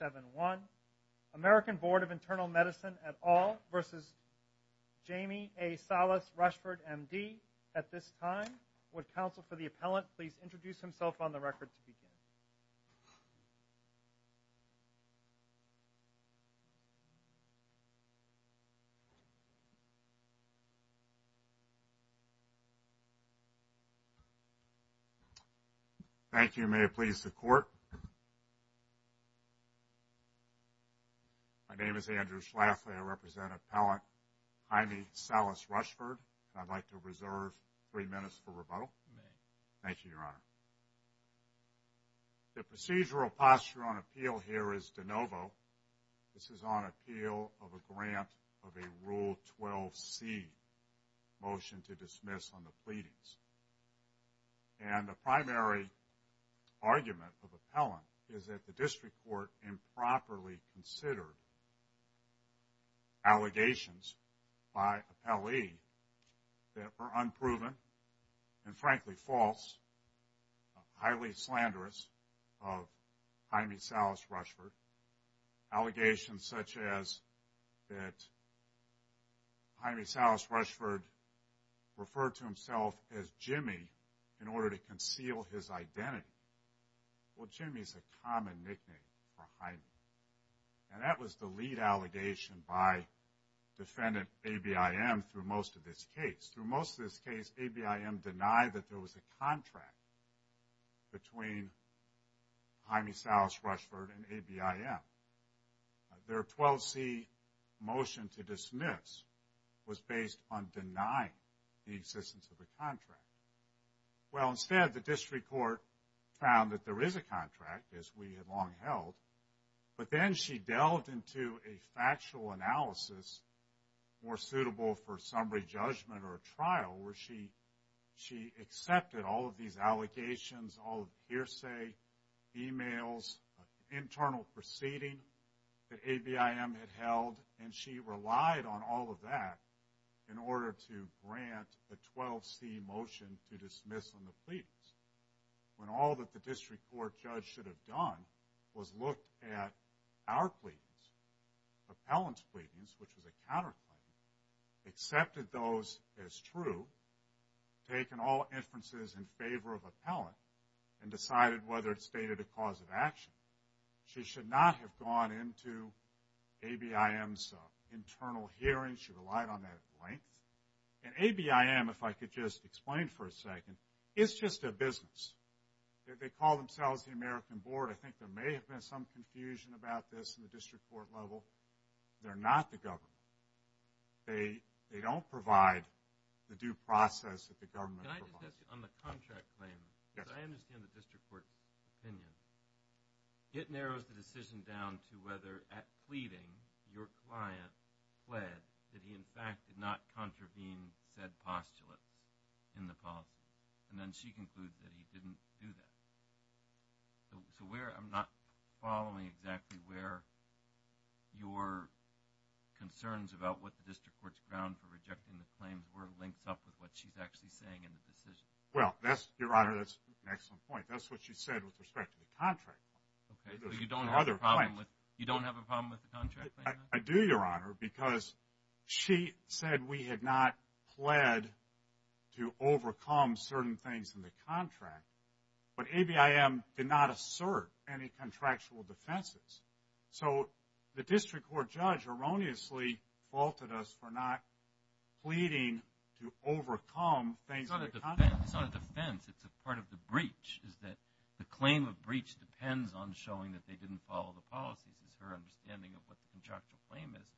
7-1. American Board of Internal Medicine et al. versus Jamie A. Salas-Rushford, M.D. at this time. Would counsel for the appellant please introduce himself on the record to My name is Andrew Schlafly. I represent Appellant Jaime Salas-Rushford. I'd like to reserve three minutes for rebuttal. Thank you, Your Honor. The procedural posture on appeal here is de novo. This is on appeal of a grant of a Rule 12c motion to dismiss on the pleadings. And the primary argument of appellant is that the district court improperly considered allegations by appellee that were unproven and frankly false, highly slanderous of Jaime Salas-Rushford. Allegations such as that Jaime Salas-Rushford referred to himself as Jimmy in order to conceal his identity. Well, Jimmy's a common nickname for Jaime. And that was the lead allegation by defendant A.B.I.M. through most of this case. Through most of this case, A.B.I.M. denied that there was a contract between Jaime Salas-Rushford and A.B.I.M. Their 12c motion to dismiss was based on denying the existence of the contract. Well, instead, the district court found that there is a contract, as we had long held. But then she delved into a She accepted all of these allegations, all of the hearsay, emails, internal proceeding that A.B.I.M. had held, and she relied on all of that in order to grant a 12c motion to dismiss on the pleadings. When all that the district court judge should have done was look at our pleadings, appellant's pleadings, which was a counterclaim, accepted those as true, taken all inferences in favor of appellant, and decided whether it stated a cause of action. She should not have gone into A.B.I.M.'s internal hearings. She relied on that at length. And A.B.I.M., if I could just explain for a second, is just a business. They call themselves the American Board. I think there may have been some confusion about this in the district court level. They're not the government. They don't provide the due process that the government provides. Can I just ask you on the contract claim? Yes. Because I understand the district court opinion. It narrows the decision down to whether, at pleading, your client pled that he, in fact, did not contravene said postulate in the policy. And then she concludes that he didn't do that. So where, I'm not following exactly where your concerns about what the district court's ground for rejecting the claims were links up with what she's actually saying in the decision. Well, that's, Your Honor, that's an excellent point. That's what she said with respect to the contract. Okay. So you don't have a problem with the contract claim? I do, Your Honor, because she said we had not pled to overcome certain things in the contract. But ABIM did not assert any contractual defenses. So the district court judge erroneously faulted us for not pleading to overcome things in the contract. It's not a defense. It's a part of the breach, is that the claim of breach depends on showing that they didn't follow the policies, is her understanding of what the contractual claim is.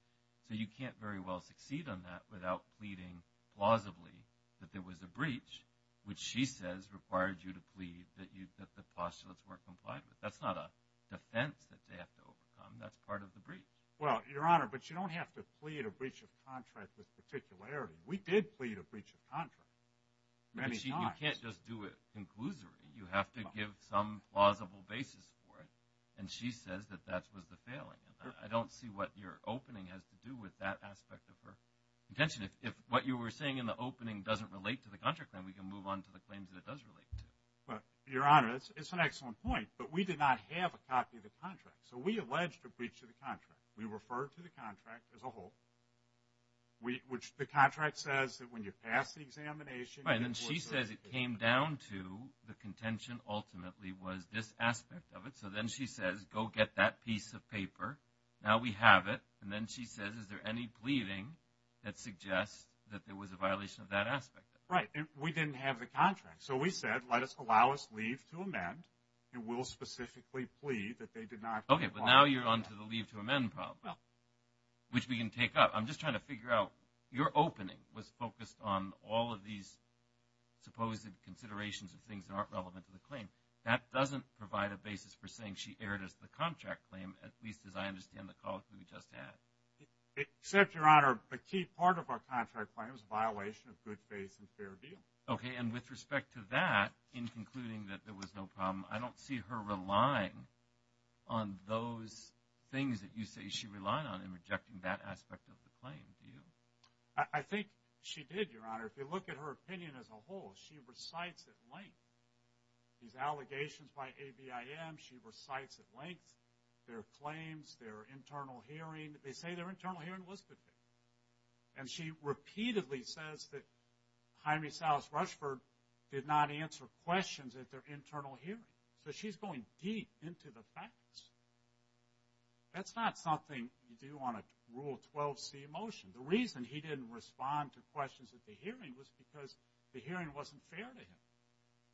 So you can't very well succeed on that without pleading plausibly that there was a breach, which she says required you to plead that the postulates weren't complied with. That's not a defense that they have to overcome. That's part of the breach. Well, Your Honor, but you don't have to plead a breach of contract with particularity. We did plead a breach of contract many times. But you can't just do it conclusively. You have to give some plausible basis for it. And she says that that was the failing. I don't see what your opening has to do with that aspect of her contention. If what you were saying in the opening doesn't relate to the contract, then we can move on to the claims that it does relate to. Well, Your Honor, it's an excellent point. But we did not have a copy of the contract. So we alleged a breach of the contract. We referred to the contract as a whole, which the contract says that when you pass the examination. Right. And then she says it came down to the contention ultimately was this aspect of it. So then she says, go get that piece of paper. Now we have it. And then she says, is there any that suggests that there was a violation of that aspect of it. Right. We didn't have the contract. So we said, let us allow us leave to amend. And we'll specifically plead that they did not. Okay. But now you're on to the leave to amend problem. Well. Which we can take up. I'm just trying to figure out, your opening was focused on all of these supposed considerations of things that aren't relevant to the claim. That doesn't provide a basis for saying she erred as the contract claim, at least as I understand the call to be just that. Except, your honor, a key part of our contract claim is a violation of good faith and fair deal. Okay. And with respect to that, in concluding that there was no problem, I don't see her relying on those things that you say she relied on in rejecting that aspect of the claim. Do you? I think she did, your honor. If you look at her opinion as a whole, she recites at length these allegations by ABIM. She recites at length their claims, their internal hearing. They say their internal hearing was good faith. And she repeatedly says that Jaime Salas Rushford did not answer questions at their internal hearing. So she's going deep into the facts. That's not something you do on a Rule 12c motion. The reason he didn't respond to questions at the hearing was because the hearing wasn't fair to him.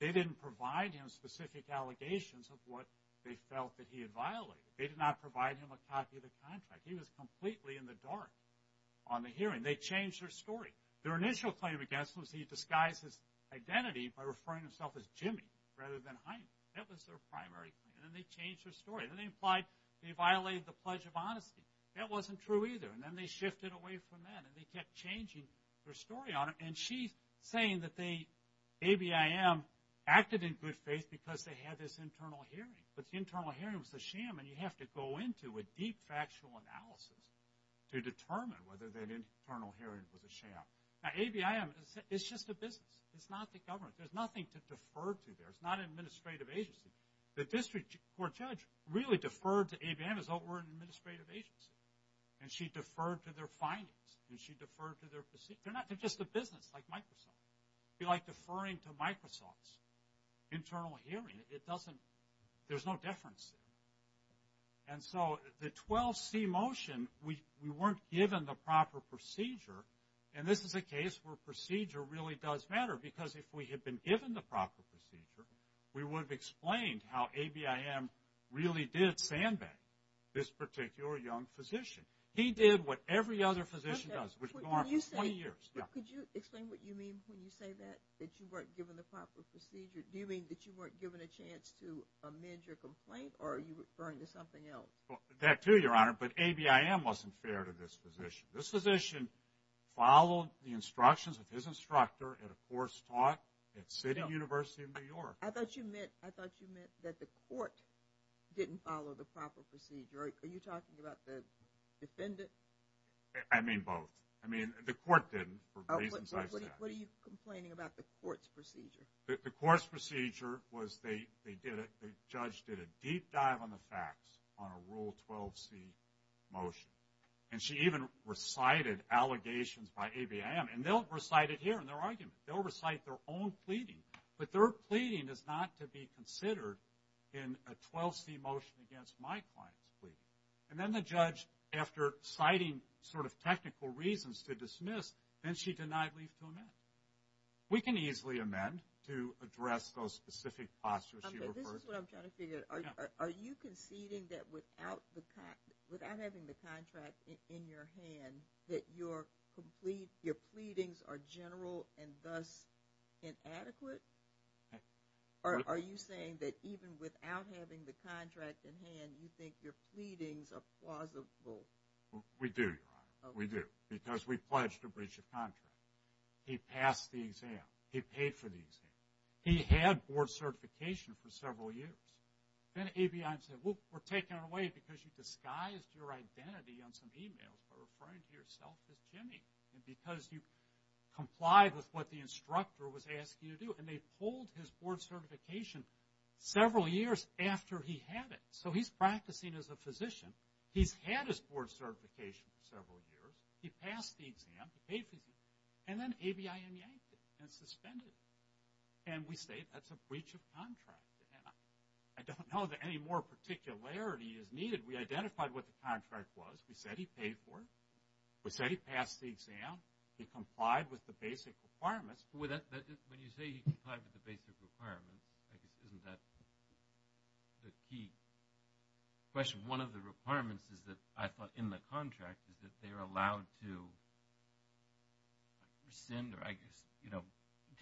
They didn't provide him specific allegations of what they felt that he had violated. They did not provide him a copy of the contract. He was completely in the dark on the hearing. They changed their story. Their initial claim against him was he disguised his identity by referring to himself as Jimmy rather than Jaime. That was their primary claim. And then they changed their story. Then they implied he violated the Pledge of Honesty. That wasn't true either. And then they shifted away from that. And they kept changing their story, your honor. And she's saying that they, ABIM, acted in good faith because they had this ability to go into a deep factual analysis to determine whether that internal hearing was a sham. Now ABIM is just a business. It's not the government. There's nothing to defer to there. It's not an administrative agency. The district court judge really deferred to ABIM as though it were an administrative agency. And she deferred to their findings. And she deferred to their proceedings. They're just a business like Microsoft. If you like deferring to Microsoft's internal hearing, it doesn't, there's no difference. And so the 12C motion, we weren't given the proper procedure. And this is a case where procedure really does matter. Because if we had been given the proper procedure, we would have explained how ABIM really did sandbag this particular young physician. He did what every other physician does. Could you explain what you mean when you say that? That you weren't given the proper procedure? Do you mean that you weren't given a chance to amend your complaint? Or are you referring to something else? That too, your honor. But ABIM wasn't fair to this physician. This physician followed the instructions of his instructor in a course taught at City University of New York. I thought you meant that the court didn't follow the proper procedure. Are you talking about the defendant? I mean both. I mean the court didn't. What are you complaining about the court's procedure? The court's procedure was they did it, the judge did a deep dive on the facts on a rule 12C motion. And she even recited allegations by ABIM. And they'll recite it here in their argument. They'll recite their own pleading. But their pleading is not to be considered in a 12C motion against my client's pleading. And then the judge, after citing sort of technical reasons to dismiss, then she denied leave to amend. We can easily amend to address those specific postures you referred to. This is what I'm trying to figure out. Are you conceding that without having the contract in your hand, that your pleadings are general and thus inadequate? Are you saying that even without having the contract in hand, you think your pleadings are plausible? We do, Your Honor. We do. Because we pledged to breach the contract. He passed the exam. He paid for the exam. He had board certification for several years. Then ABIM said, well, we're taking it away because you disguised your identity on some emails by referring to yourself as Jimmy. And because you complied with what the instructor was asking you to do. And they pulled his board certification several years after he had it. So he's practicing as a physician. He's had his board certification for several years. He passed the exam. He paid for the exam. And then ABIM yanked it and suspended it. And we say that's a breach of contract. And I don't know that any more particularity is needed. We identified what the contract was. We said he paid for it. We said he passed the exam. He complied with the basic requirements. When you say he complied with the basic requirements, isn't that the key question? One of the requirements is that I thought in the contract is that they are allowed to rescind or I guess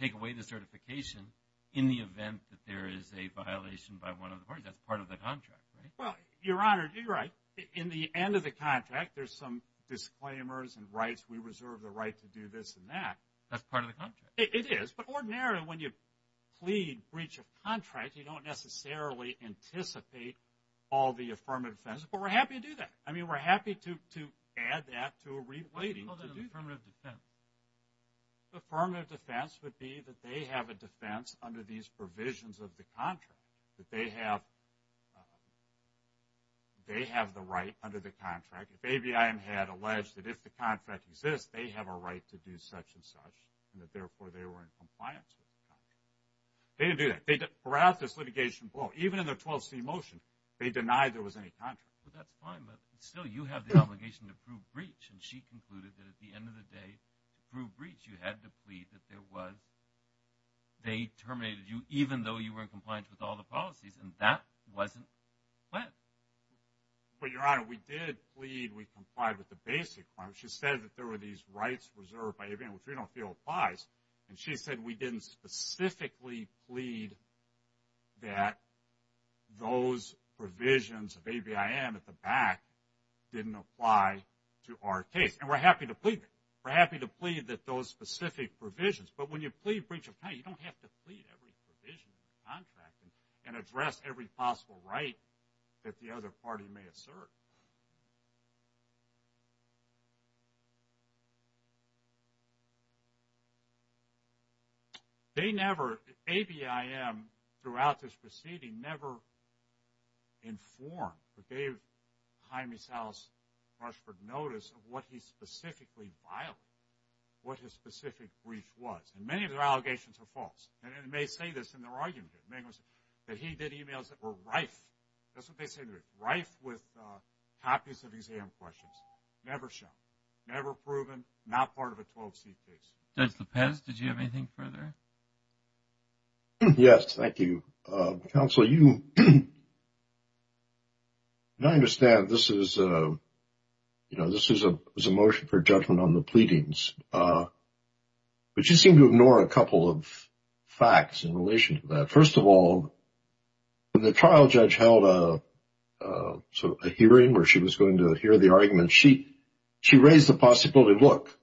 take away the certification in the event that there is a violation by one of the parties. That's part of the contract, right? Well, Your Honor, you're right. In the end of the contract, there's some disclaimers and rights. We reserve the right to do this and that. That's part of the contract. It is. But ordinarily, when you plead breach of contract, you don't necessarily anticipate all the affirmative defense. But we're happy to do that. I mean, we're happy to add that to a replay. Wait, hold on. Affirmative defense? Affirmative defense would be that they have a defense under these provisions of the contract. That they have the right under the contract. If ABI had alleged that if the contract exists, they have a right to do such and such and that, therefore, they were in compliance with the contract. They didn't do that. They brought out this litigation blow. Even in the 12C motion, they denied there was any contract. Well, that's fine. But still, you have the obligation to prove breach. And she concluded that at the end of the day, to prove breach, you had to plead that there was. They terminated you, even though you were in compliance with all the policies. And that wasn't planned. But, Your Honor, we did plead. We complied with the basic. She said that there were these rights reserved by ABI, which we don't feel applies. And she said we didn't specifically plead that those provisions of ABIM at the back didn't apply to our case. And we're happy to plead that. We're happy to plead that those specific provisions. But when you plead breach at the time, you don't have to plead every provision in the contract and address every possible right that the other party may assert. They never, ABIM throughout this proceeding, never informed or gave Jaime Salas Rushford notice of what he specifically violated, what his specific breach was. And many of their allegations are false. And it may say this in their argument, that he did emails that were rife, that's what they say, rife with copies of exam questions, never shown, never proven, not part of a 12-C case. Judge Lopez, did you have anything further? Yes, thank you. Counsel, you, and I understand this is, you know, this is a motion for judgment on the pleadings. But you seem to ignore a couple of facts in relation to that. First of all, when the trial judge held a hearing where she was going to hear the argument, she raised the possibility, look,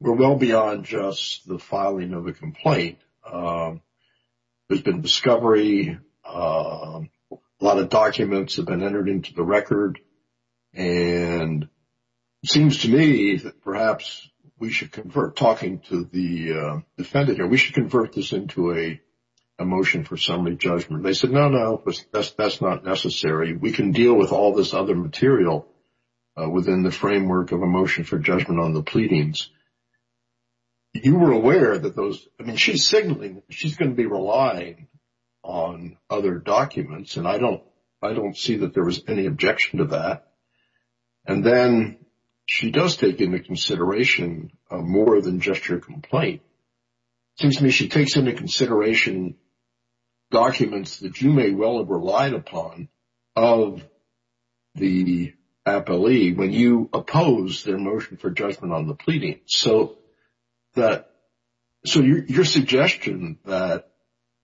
we're well beyond just the filing of a complaint. There's should convert, talking to the defendant here, we should convert this into a motion for assembly judgment. They said, no, no, that's not necessary. We can deal with all this other material within the framework of a motion for judgment on the pleadings. You were aware that those, I mean, she's signaling that she's going to be relying on other documents. And I don't see that there was any objection to that. And then she does take into consideration more than just your complaint. Excuse me, she takes into consideration documents that you may well have relied upon of the appellee when you oppose their motion for judgment on the pleadings. So your suggestion that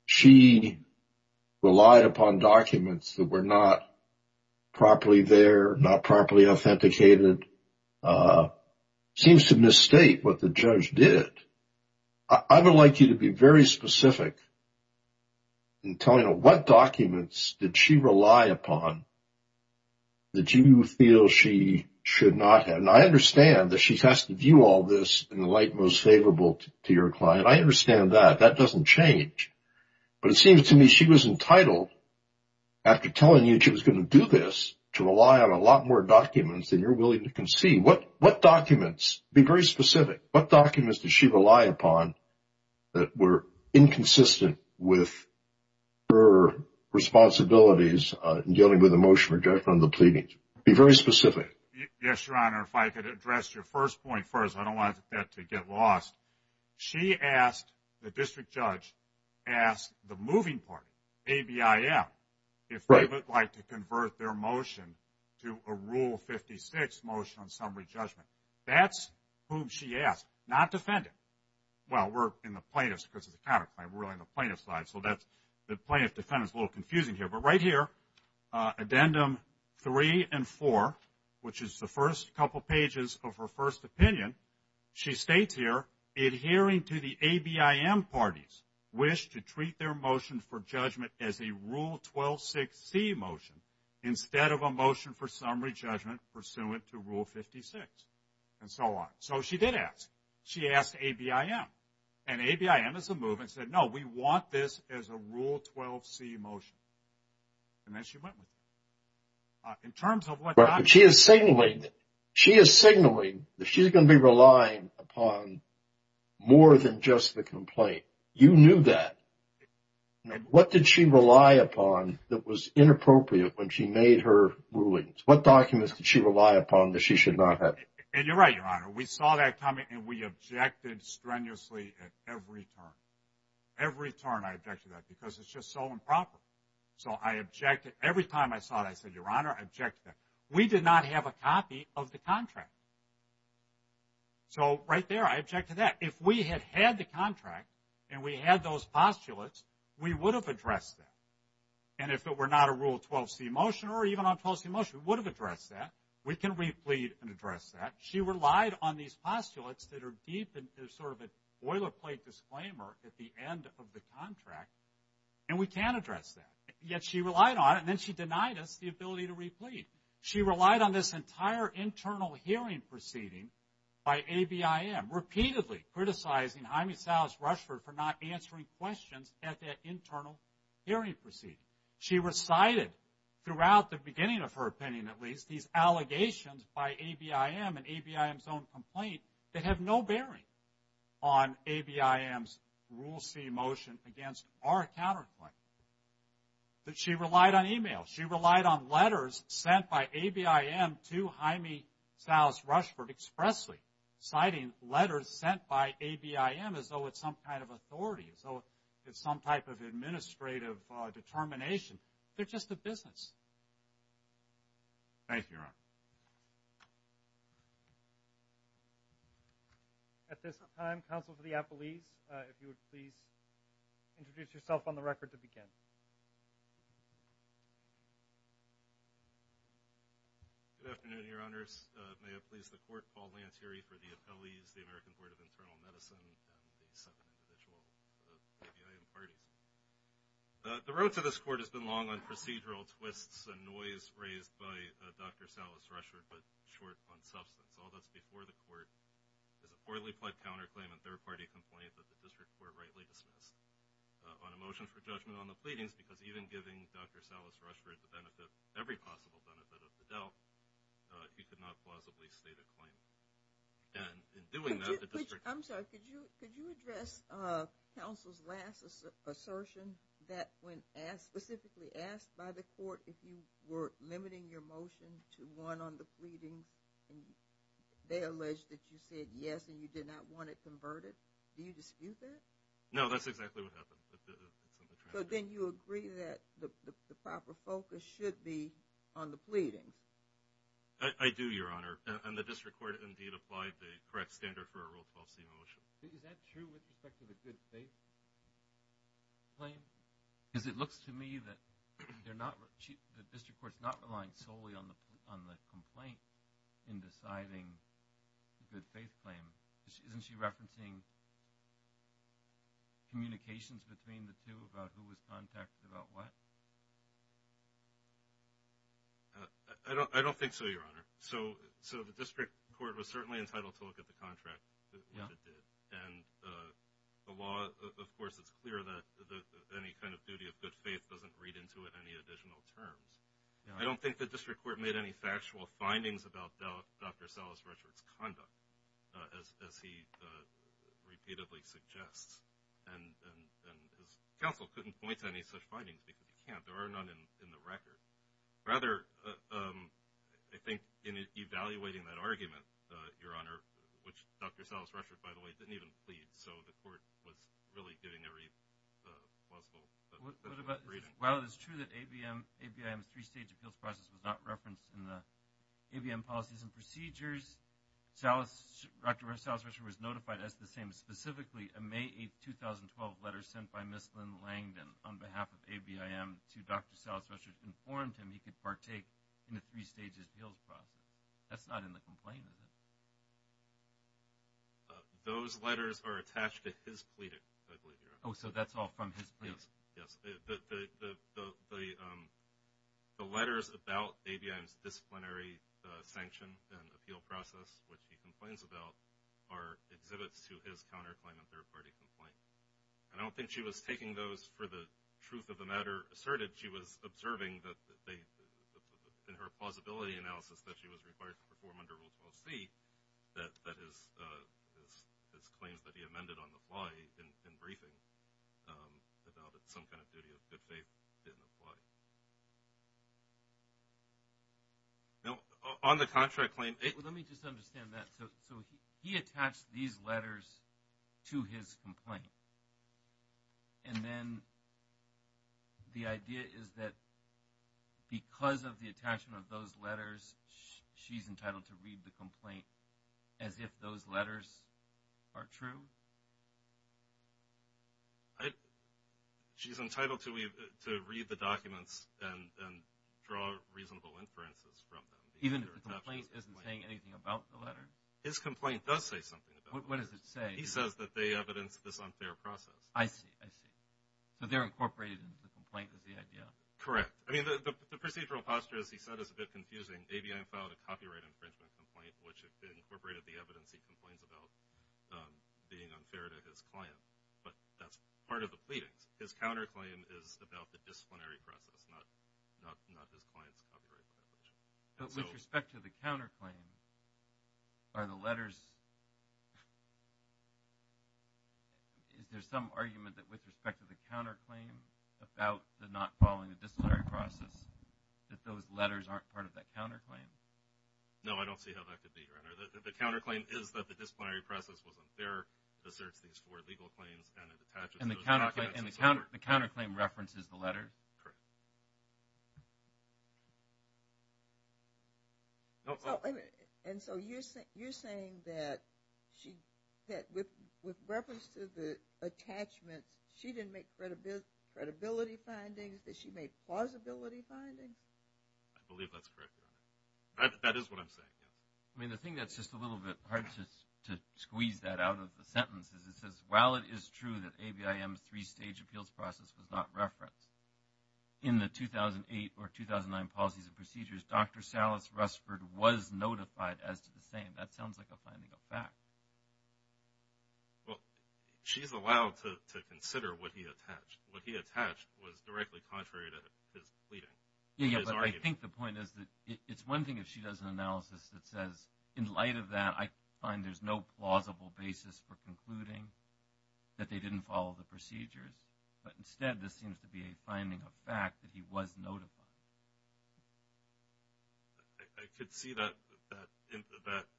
she relied upon documents that were not properly there, not properly authenticated, seems to misstate what the judge did. I would like you to be very specific in telling what documents did she rely upon that you feel she should not have. And I understand that she has to view all this in the light most favorable to your client. I understand that. That doesn't change. But it seems to me she was entitled after telling you she was going to do this to rely on a lot more documents than you're willing to concede. What documents, be very specific, what documents did she rely upon that were inconsistent with her responsibilities in dealing with the motion for judgment on the pleadings? Be very specific. Yes, Your Honor. If I could address your first point first, I don't want that to get lost. She asked, the district judge, asked the moving party, ABIM, if they would like to convert their motion to a Rule 56 motion on summary judgment. That's whom she asked, not defendant. Well, we're in the plaintiff's, because it's a counterclaim, we're on the plaintiff's side. So the plaintiff-defendant is a little confusing here. But right here, Addendum 3 and 4, which is the first couple pages of her first opinion, she states here, adhering to the ABIM parties wish to treat their motion for judgment as a Rule 126C motion instead of a motion for summary judgment pursuant to Rule 56, and so on. So she did ask. She asked ABIM. And ABIM is a movement that said, no, we want this as a Rule 12C motion. And then she went with it. In terms of what documents... She is signaling that she's going to be relying upon more than just the complaint. You knew that. What did she rely upon that was inappropriate when she made her rulings? What documents did she rely upon that she should not have? And you're right, Your Honor. We saw that continuously at every turn. Every turn I objected to that, because it's just so improper. So I objected. Every time I saw it, I said, Your Honor, I objected to that. We did not have a copy of the contract. So right there, I objected to that. If we had had the contract and we had those postulates, we would have addressed that. And if it were not a Rule 12C motion, or even on a 12C motion, we would have addressed that. We can replead and address that. She relied on these postulates that are deep and there's sort of a boilerplate disclaimer at the end of the contract. And we can address that. Yet she relied on it. And then she denied us the ability to replead. She relied on this entire internal hearing proceeding by ABIM, repeatedly criticizing Jaime Salas Rushford for not answering questions at that internal hearing proceeding. She recited throughout the beginning of her opinion, at least allegations by ABIM and ABIM's own complaint, that have no bearing on ABIM's Rule C motion against our counterclaim. She relied on email. She relied on letters sent by ABIM to Jaime Salas Rushford expressly, citing letters sent by ABIM as though it's some kind of authority, as though it's some type of administrative determination. They're just a business. Thank you, Your Honor. At this time, counsel for the appellees, if you would please introduce yourself on the record to begin. Good afternoon, Your Honors. May it please the Court, Paul Lantieri for the appellees, the American Board of Internal Affairs. The procedural twists and noise raised by Dr. Salas Rushford, but short on substance, all that's before the Court is a poorly pled counterclaim and third-party complaint that the District Court rightly dismissed on a motion for judgment on the pleadings, because even giving Dr. Salas Rushford the benefit, every possible benefit of the doubt, he could not plausibly state a claim. And in doing that, the District... I'm sorry, could you address counsel's last assertion that when specifically asked by the Court if you were limiting your motion to one on the pleading, they alleged that you said yes and you did not want it converted? Do you dispute that? No, that's exactly what happened. But then you agree that the proper focus should be on the pleading? I do, Your Honor. And that's the correct standard for a Rule 12c motion. Is that true with respect to the good faith claim? Because it looks to me that they're not... the District Court's not relying solely on the complaint in deciding the good faith claim. Isn't she referencing communications between the two about who was contacted about what? I don't think so, Your Honor. The District Court was certainly entitled to look at the contract and what it did. And the law, of course, it's clear that any kind of duty of good faith doesn't read into it any additional terms. I don't think the District Court made any factual findings about Dr. Salas Rushford's conduct, as he repeatedly suggests. And counsel couldn't point to any such findings because you can't. There are none in the record. Rather, I think in evaluating that argument, Your Honor, which Dr. Salas Rushford, by the way, didn't even plead. So the Court was really giving every possible reason. While it is true that ABM's three-stage appeals process was not referenced in the ABM policies and procedures, Dr. Salas Rushford was notified as the same. Specifically, a May 8, 2012 letter sent by Ms. Lynn Langdon on behalf of ABM to Dr. Salas Rushford informed him he could partake in the three-stage appeals process. That's not in the complaint, is it? Those letters are attached to his plea, I believe, Your Honor. Oh, so that's all from his plea? Yes. The letters about ABM's disciplinary sanction and appeal process, which he complains about, are exhibits to his counterclaim and the truth of the matter asserted she was observing that they, in her plausibility analysis, that she was required to perform under Rule 12c, that his claims that he amended on the fly, in briefing, about some kind of duty of good faith, didn't apply. Now, on the counterclaim... Well, let me just understand that. So he attached these letters to his plea. The idea is that because of the attachment of those letters, she's entitled to read the complaint as if those letters are true? She's entitled to read the documents and draw reasonable inferences from them. Even if the complaint isn't saying anything about the letter? His complaint does say something about it. What does it say? He says that they evidence this unfair process. I see. I see. So they're incorporated into the complaint is the idea? Correct. I mean, the procedural posture, as he said, is a bit confusing. ABM filed a copyright infringement complaint, which incorporated the evidence he complains about being unfair to his client. But that's part of the pleadings. His counterclaim is about the disciplinary process, not his client's copyright infringement. But with respect to the counterclaim, are there some arguments that with respect to the counterclaim about the not following the disciplinary process, that those letters aren't part of that counterclaim? No, I don't see how that could be. The counterclaim is that the disciplinary process was unfair, asserts these four legal claims, and it attaches those documents. And the counterclaim references the letter? Correct. And so you're saying that with reference to the attachments, she didn't make credibility findings, that she made plausibility findings? I believe that's correct. That is what I'm saying, yeah. I mean, the thing that's just a little bit hard to squeeze that out of the sentence is it says, while it is true that ABIM's three-stage appeals process was not referenced, in the 2008 or 2009 policies and procedures, Dr. Salas Rusford was notified as to the same. That sounds like a finding of fact. Well, she's allowed to consider what he attached. What he attached was directly contrary to his pleading. Yeah, yeah, but I think the point is that it's one thing if she does an analysis that says, in light of that, I find there's no plausible basis for concluding that they didn't follow the procedures. But instead, this seems to be a finding of fact that he was notified. I could see that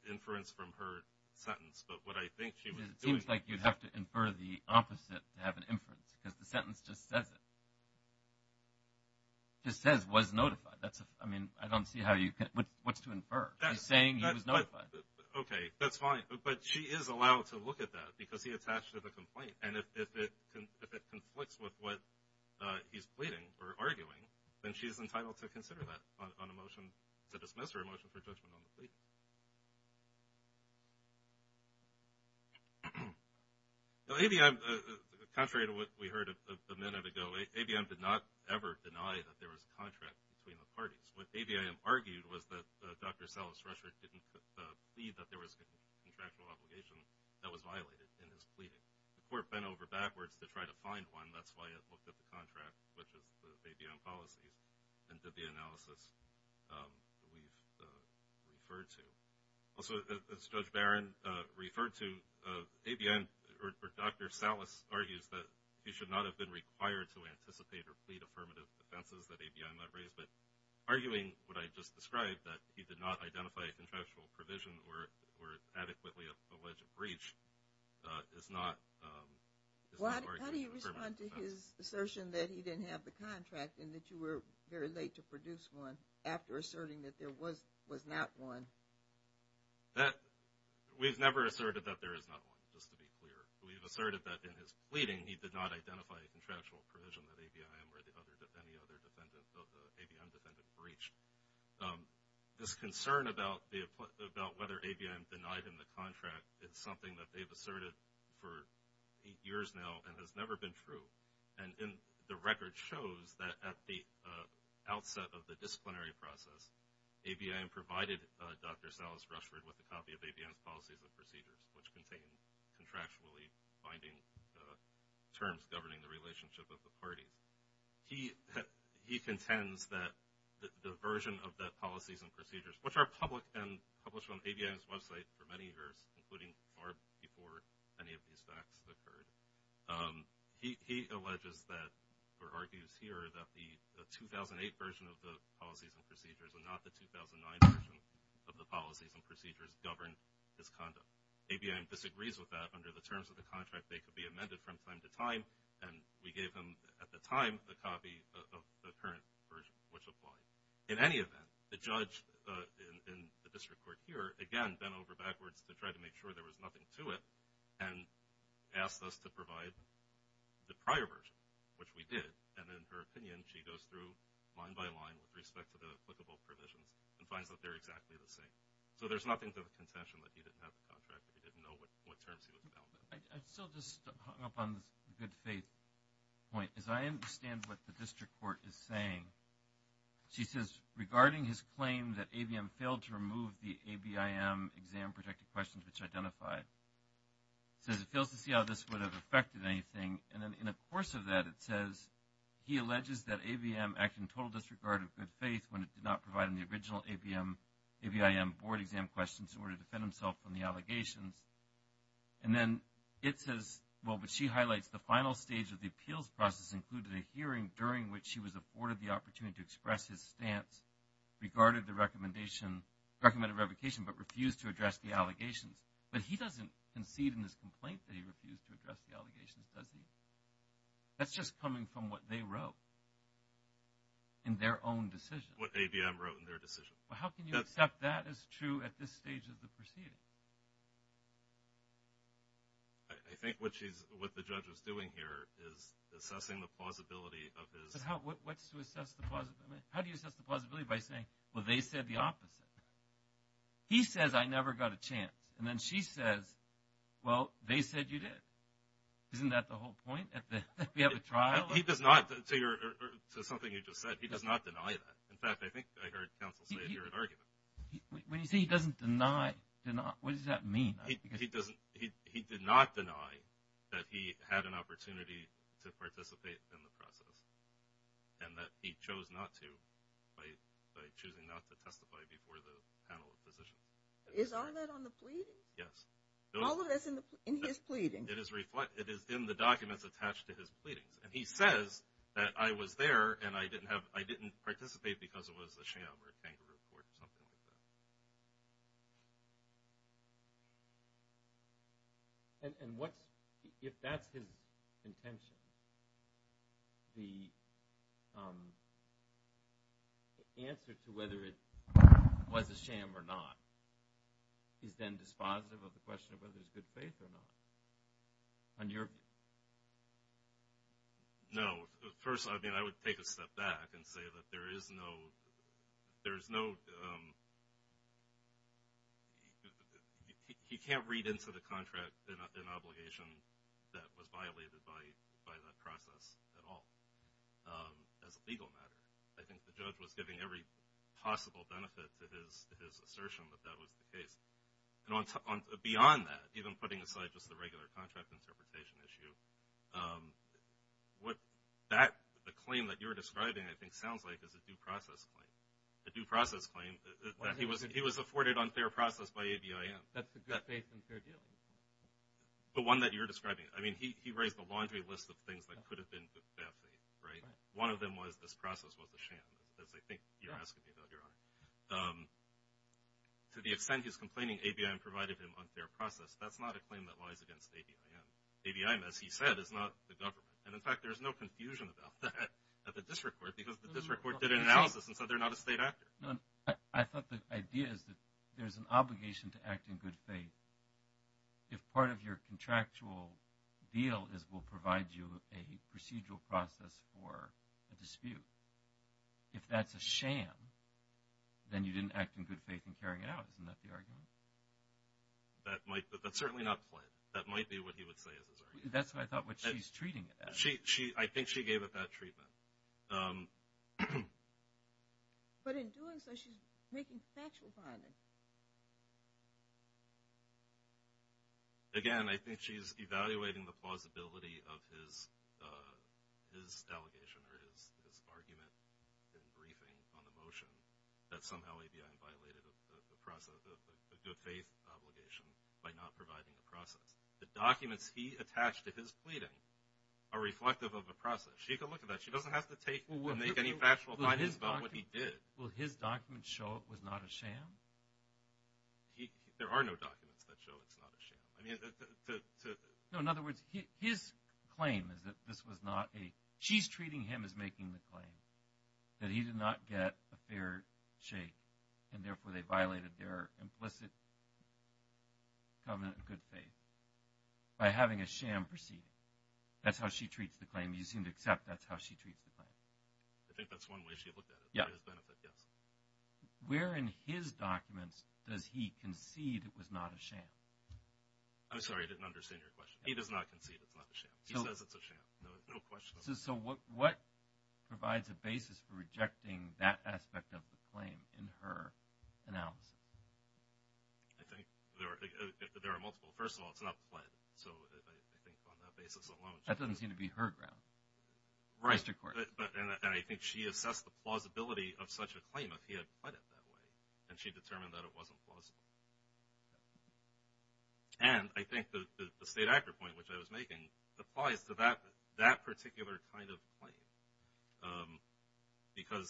inference from her sentence, but what I think she was doing... It seems like you'd have to infer the opposite to have an inference, because the sentence just says it. It just says, was notified. I mean, I don't see how you can... What's to infer? She's saying he was notified. Okay, that's fine, but she is allowed to look at that, because he attached to the complaint. And if it conflicts with what he's pleading or arguing, then she's entitled to consider that on a motion to dismiss or a motion for judgment on the plea. Now, ABM, contrary to what we heard a minute ago, ABM did not ever deny that there was a contract between the parties. What ABM argued was that Dr. Salas Rusher didn't plead that there was a contractual obligation that was violated in his pleading. The court bent over backwards to try to find one. That's why it looked at the contract, which is the ABM policy, and did the analysis we've referred to. Also, as Judge Barron referred to, Dr. Salas argues that he should not have been required to anticipate or plead affirmative defenses that ABM had raised. But arguing what I just described, that he did not identify a contractual provision or adequately allege a breach, is not arguing affirmative defense. Well, how do you respond to his assertion that he didn't have the contract and that you were very late to produce one after asserting that there was not one? We've never asserted that there is not one, just to be clear. We've asserted that in his case, and the other ABM defendants have reached. This concern about whether ABM denied him the contract is something that they've asserted for eight years now and has never been true. And the record shows that at the outset of the disciplinary process, ABM provided Dr. Salas Rushford with a copy of ABM's policies and procedures, which contained contractually binding terms governing the relationship of the party. He contends that the version of the policies and procedures, which are public and published on ABM's website for many years, including far before any of these facts occurred, he alleges that, or argues here, that the 2008 version of the policies and procedures and not the 2009 version of the policies and procedures govern his conduct. ABM disagrees with that under the terms of the contract they could be amended from time to time, and we gave him, at the time, the copy of the current version, which applied. In any event, the judge in the district court here, again bent over backwards to try to make sure there was nothing to it, and asked us to provide the prior version, which we did. And in her opinion, she goes through line by line with respect to the applicable provisions and finds that they're exactly the same. So there's nothing to the contention that he didn't have the contract, that he didn't know what terms he was bound by. I still just hung up on the good faith point. As I understand what the district court is saying, she says, regarding his claim that ABM failed to remove the ABIM exam protected questions which identified, says, it fails to see how this would have affected anything. And then in the course of that, it says, he alleges that ABM acted in total disregard of good faith when it did not provide in the original ABIM board exam questions in order to defend himself from the allegations. And then it says, well, but she highlights, the final stage of the appeals process included a hearing during which he was afforded the opportunity to express his stance, regarded the recommendation, recommended revocation, but refused to address the allegations. But he doesn't concede in his complaint that he refused to address the allegations, does he? That's just coming from what they wrote in their own decision. What ABM wrote in their decision. Well, how can you accept that as true at this stage of the proceeding? I think what she's, what the judge is doing here is assessing the plausibility of his But how, what's to assess the plausibility? How do you assess the plausibility by saying, well, they said the opposite? He says, I never got a chance. And then she says, well, they said you did. Isn't that the whole point? That we have a trial? He does not, to something you just said, he does not deny that. In fact, I think I heard counsel say it here at argument. When you say he doesn't deny, what does that mean? He doesn't, he did not deny that he had an opportunity to participate in the process and that he chose not to by choosing not to testify before the panel of physicians. Is all that on the pleading? Yes. All of that's in his pleading. It is in the documents attached to his pleadings. And he says that I was there and I didn't participate because it was a sham or a kangaroo court or something like that. And what's, if that's his intention, the answer to whether it was a sham or not is then dispositive of the question of whether it's good faith or not. On your... No. First, I would take a step back and say that there is no, there is no, he can't read into the contract an obligation that was violated by that process at all as a legal matter. I think the judge was giving every possible benefit to his assertion that that was the claim that you're describing I think sounds like is a due process claim. A due process claim that he was afforded unfair process by ABIM. That's a good faith and fair deal. The one that you're describing, I mean, he raised a laundry list of things that could have been good faith, right? One of them was this process was a sham, as I think you're asking me about, Your Honor. To the extent he's complaining ABIM provided him unfair process, that's not a claim that In fact, there's no confusion about that at the district court because the district court did an analysis and said they're not a state actor. No, I thought the idea is that there's an obligation to act in good faith if part of your contractual deal is we'll provide you a procedural process for a dispute. If that's a sham, then you didn't act in good faith in carrying it out. Isn't that the argument? That might, but that's certainly not the point. That might be what he would say is his argument. That's what I thought what she's treating it as. I think she gave it that treatment. But in doing so, she's making factual comments. Again, I think she's evaluating the plausibility of his allegation or his argument in briefing on the motion that somehow ABIM violated the process of a good faith obligation by not providing the process. The documents he attached to his pleading are reflective of the process. She can look at that. She doesn't have to take and make any factual comments about what he did. Will his documents show it was not a sham? There are no documents that show it's not a sham. No, in other words, his claim is that this was not a... She's treating him as making the claim that he did not get a fair shake and therefore they violated their implicit covenant of good faith by having a sham proceeding. That's how she treats the claim. You seem to accept that's how she treats the claim. I think that's one way she looked at it. For his benefit, yes. Where in his documents does he concede it was not a sham? I'm sorry. I didn't understand your question. He does not concede it's not a sham. He says it's a sham. No question about it. So what provides a basis for rejecting that aspect of the claim in her analysis? I think there are multiple. First of all, it's not pled. So I think on that basis alone... That doesn't seem to be her ground. Right. And I think she assessed the plausibility of such a claim if he had pled it that way. And she determined that it wasn't plausible. And I think the state actor point which I was making applies to that particular kind of claim. Because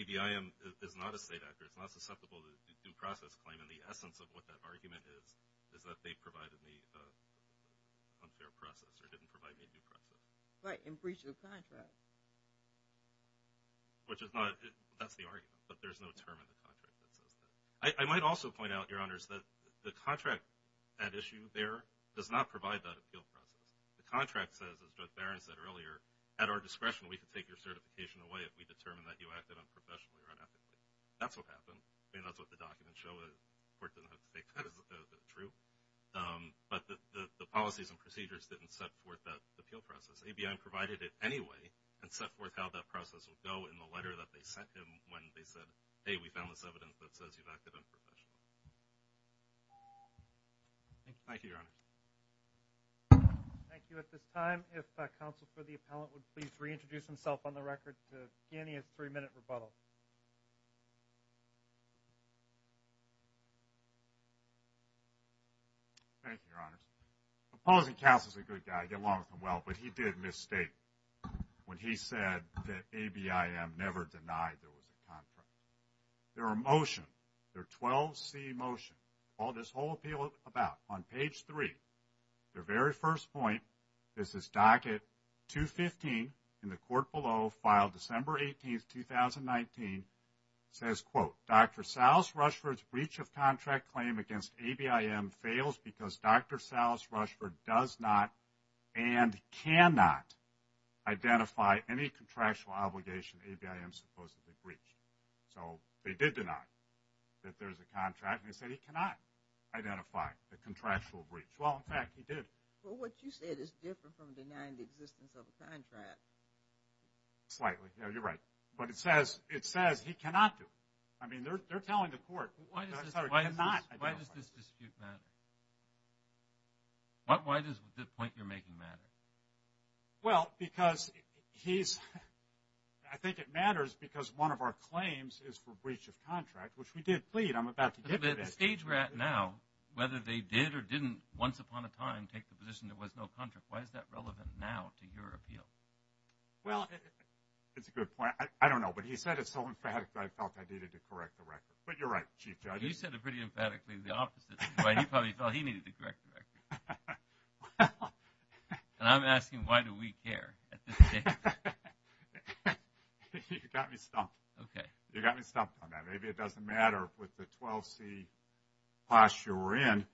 ABI is not a state actor. It's not susceptible to due process claim. And the essence of what that argument is is that they provided me unfair process or didn't provide me due process. Right. In breach of the contract. Which is not... That's the argument. But there's no term in the contract that says that. I might also point out, Your Honors, that the contract, that issue there, does not provide that appeal process. The contract says, as Judge Barron said earlier, at our discretion we can take your certification away if we determine that you acted unprofessionally or unethically. That's what happened. I mean, that's what the documents show. The court doesn't have to take that as true. But the policies and procedures didn't set forth that appeal process. ABI provided it anyway and set forth how that process would go in the letter that they sent him when they said, hey, we found this evidence that says you've acted unprofessionally. Thank you, Your Honors. Thank you. At this time, if counsel for the appellant would please reintroduce himself on the record to begin his three-minute rebuttal. Thank you, Your Honors. Opposing counsel is a good guy. I get along with him well. But he did mistake when he said that ABIM never denied there was a contract. Their motion, their 12C motion, called this whole appeal about. On page 3, their very first point, this is docket 215 in the court below, filed December 18th, 2019, says, quote, Dr. Salas Rushford's breach of contract claim against ABIM fails because Dr. Salas Rushford does not and cannot identify any contractual obligation ABIM supposedly breached. So they did deny that there's a contract, and they said he cannot identify the contractual breach. Well, in fact, he did. Well, what you said is different from denying the existence of a contract. Slightly. Yeah, you're right. But it says he cannot do it. I mean, they're telling the court. Why does this dispute matter? Why does the point you're making matter? Well, because he's – I think it matters because one of our claims is for breach of contract, which we did plead. I'm about to give it. But the stage we're at now, whether they did or didn't once upon a time take the position there was no contract, why is that relevant now to your appeal? Well, it's a good point. I don't know. But he said it so emphatically I felt I needed to correct the record. But you're right, Chief Judge. You said it pretty emphatically the opposite. He probably felt he needed to correct the record. And I'm asking why do we care at this stage? You got me stumped. Okay. You got me stumped on that. Maybe it doesn't matter with the 12C posture we're in.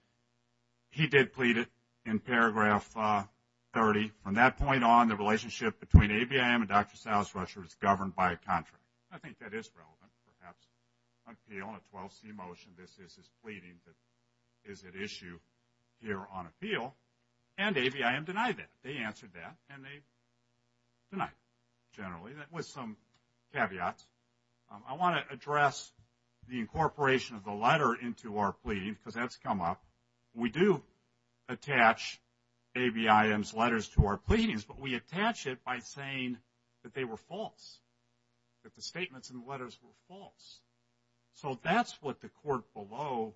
He did plead it in paragraph 30. From that point on, the relationship between ABIM and Dr. Salisbury was governed by a contract. I think that is relevant perhaps. Appeal in a 12C motion, this is his pleading that is at issue here on appeal. And ABIM denied that. They answered that and they denied it generally. That was some caveats. I want to address the incorporation of the letter into our pleading because that's come up. We do attach ABIM's letters to our pleadings, but we attach it by saying that they were false. That the statements in the letters were false. So that's what the court below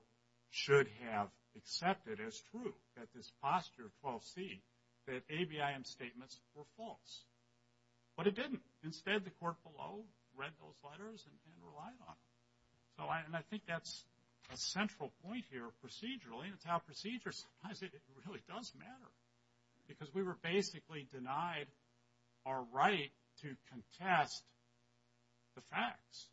should have accepted as true, that this posture of 12C, that ABIM's statements were false. But it didn't. Instead, the court below read those letters and relied on them. And I think that's a central point here procedurally. It's how procedures, it really does matter. Because we were basically denied our right to contest the facts,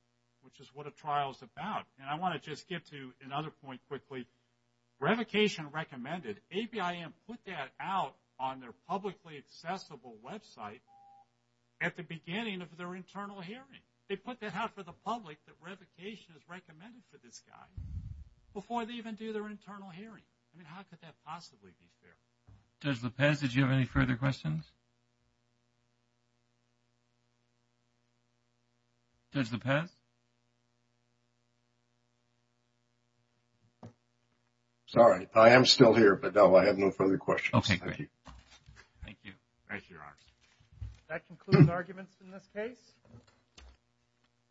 which is what a trial is about. And I want to just get to another point quickly. Revocation recommended. ABIM put that out on their publicly accessible website at the beginning of their internal hearing. They put that out for the public that revocation is recommended for this guy before they even do their internal hearing. I mean, how could that possibly be fair? Judge Lopez, did you have any further questions? Judge Lopez? Sorry. I am still here, but, no, I have no further questions. Okay, great. Thank you. Raise your arms. That concludes arguments in this case.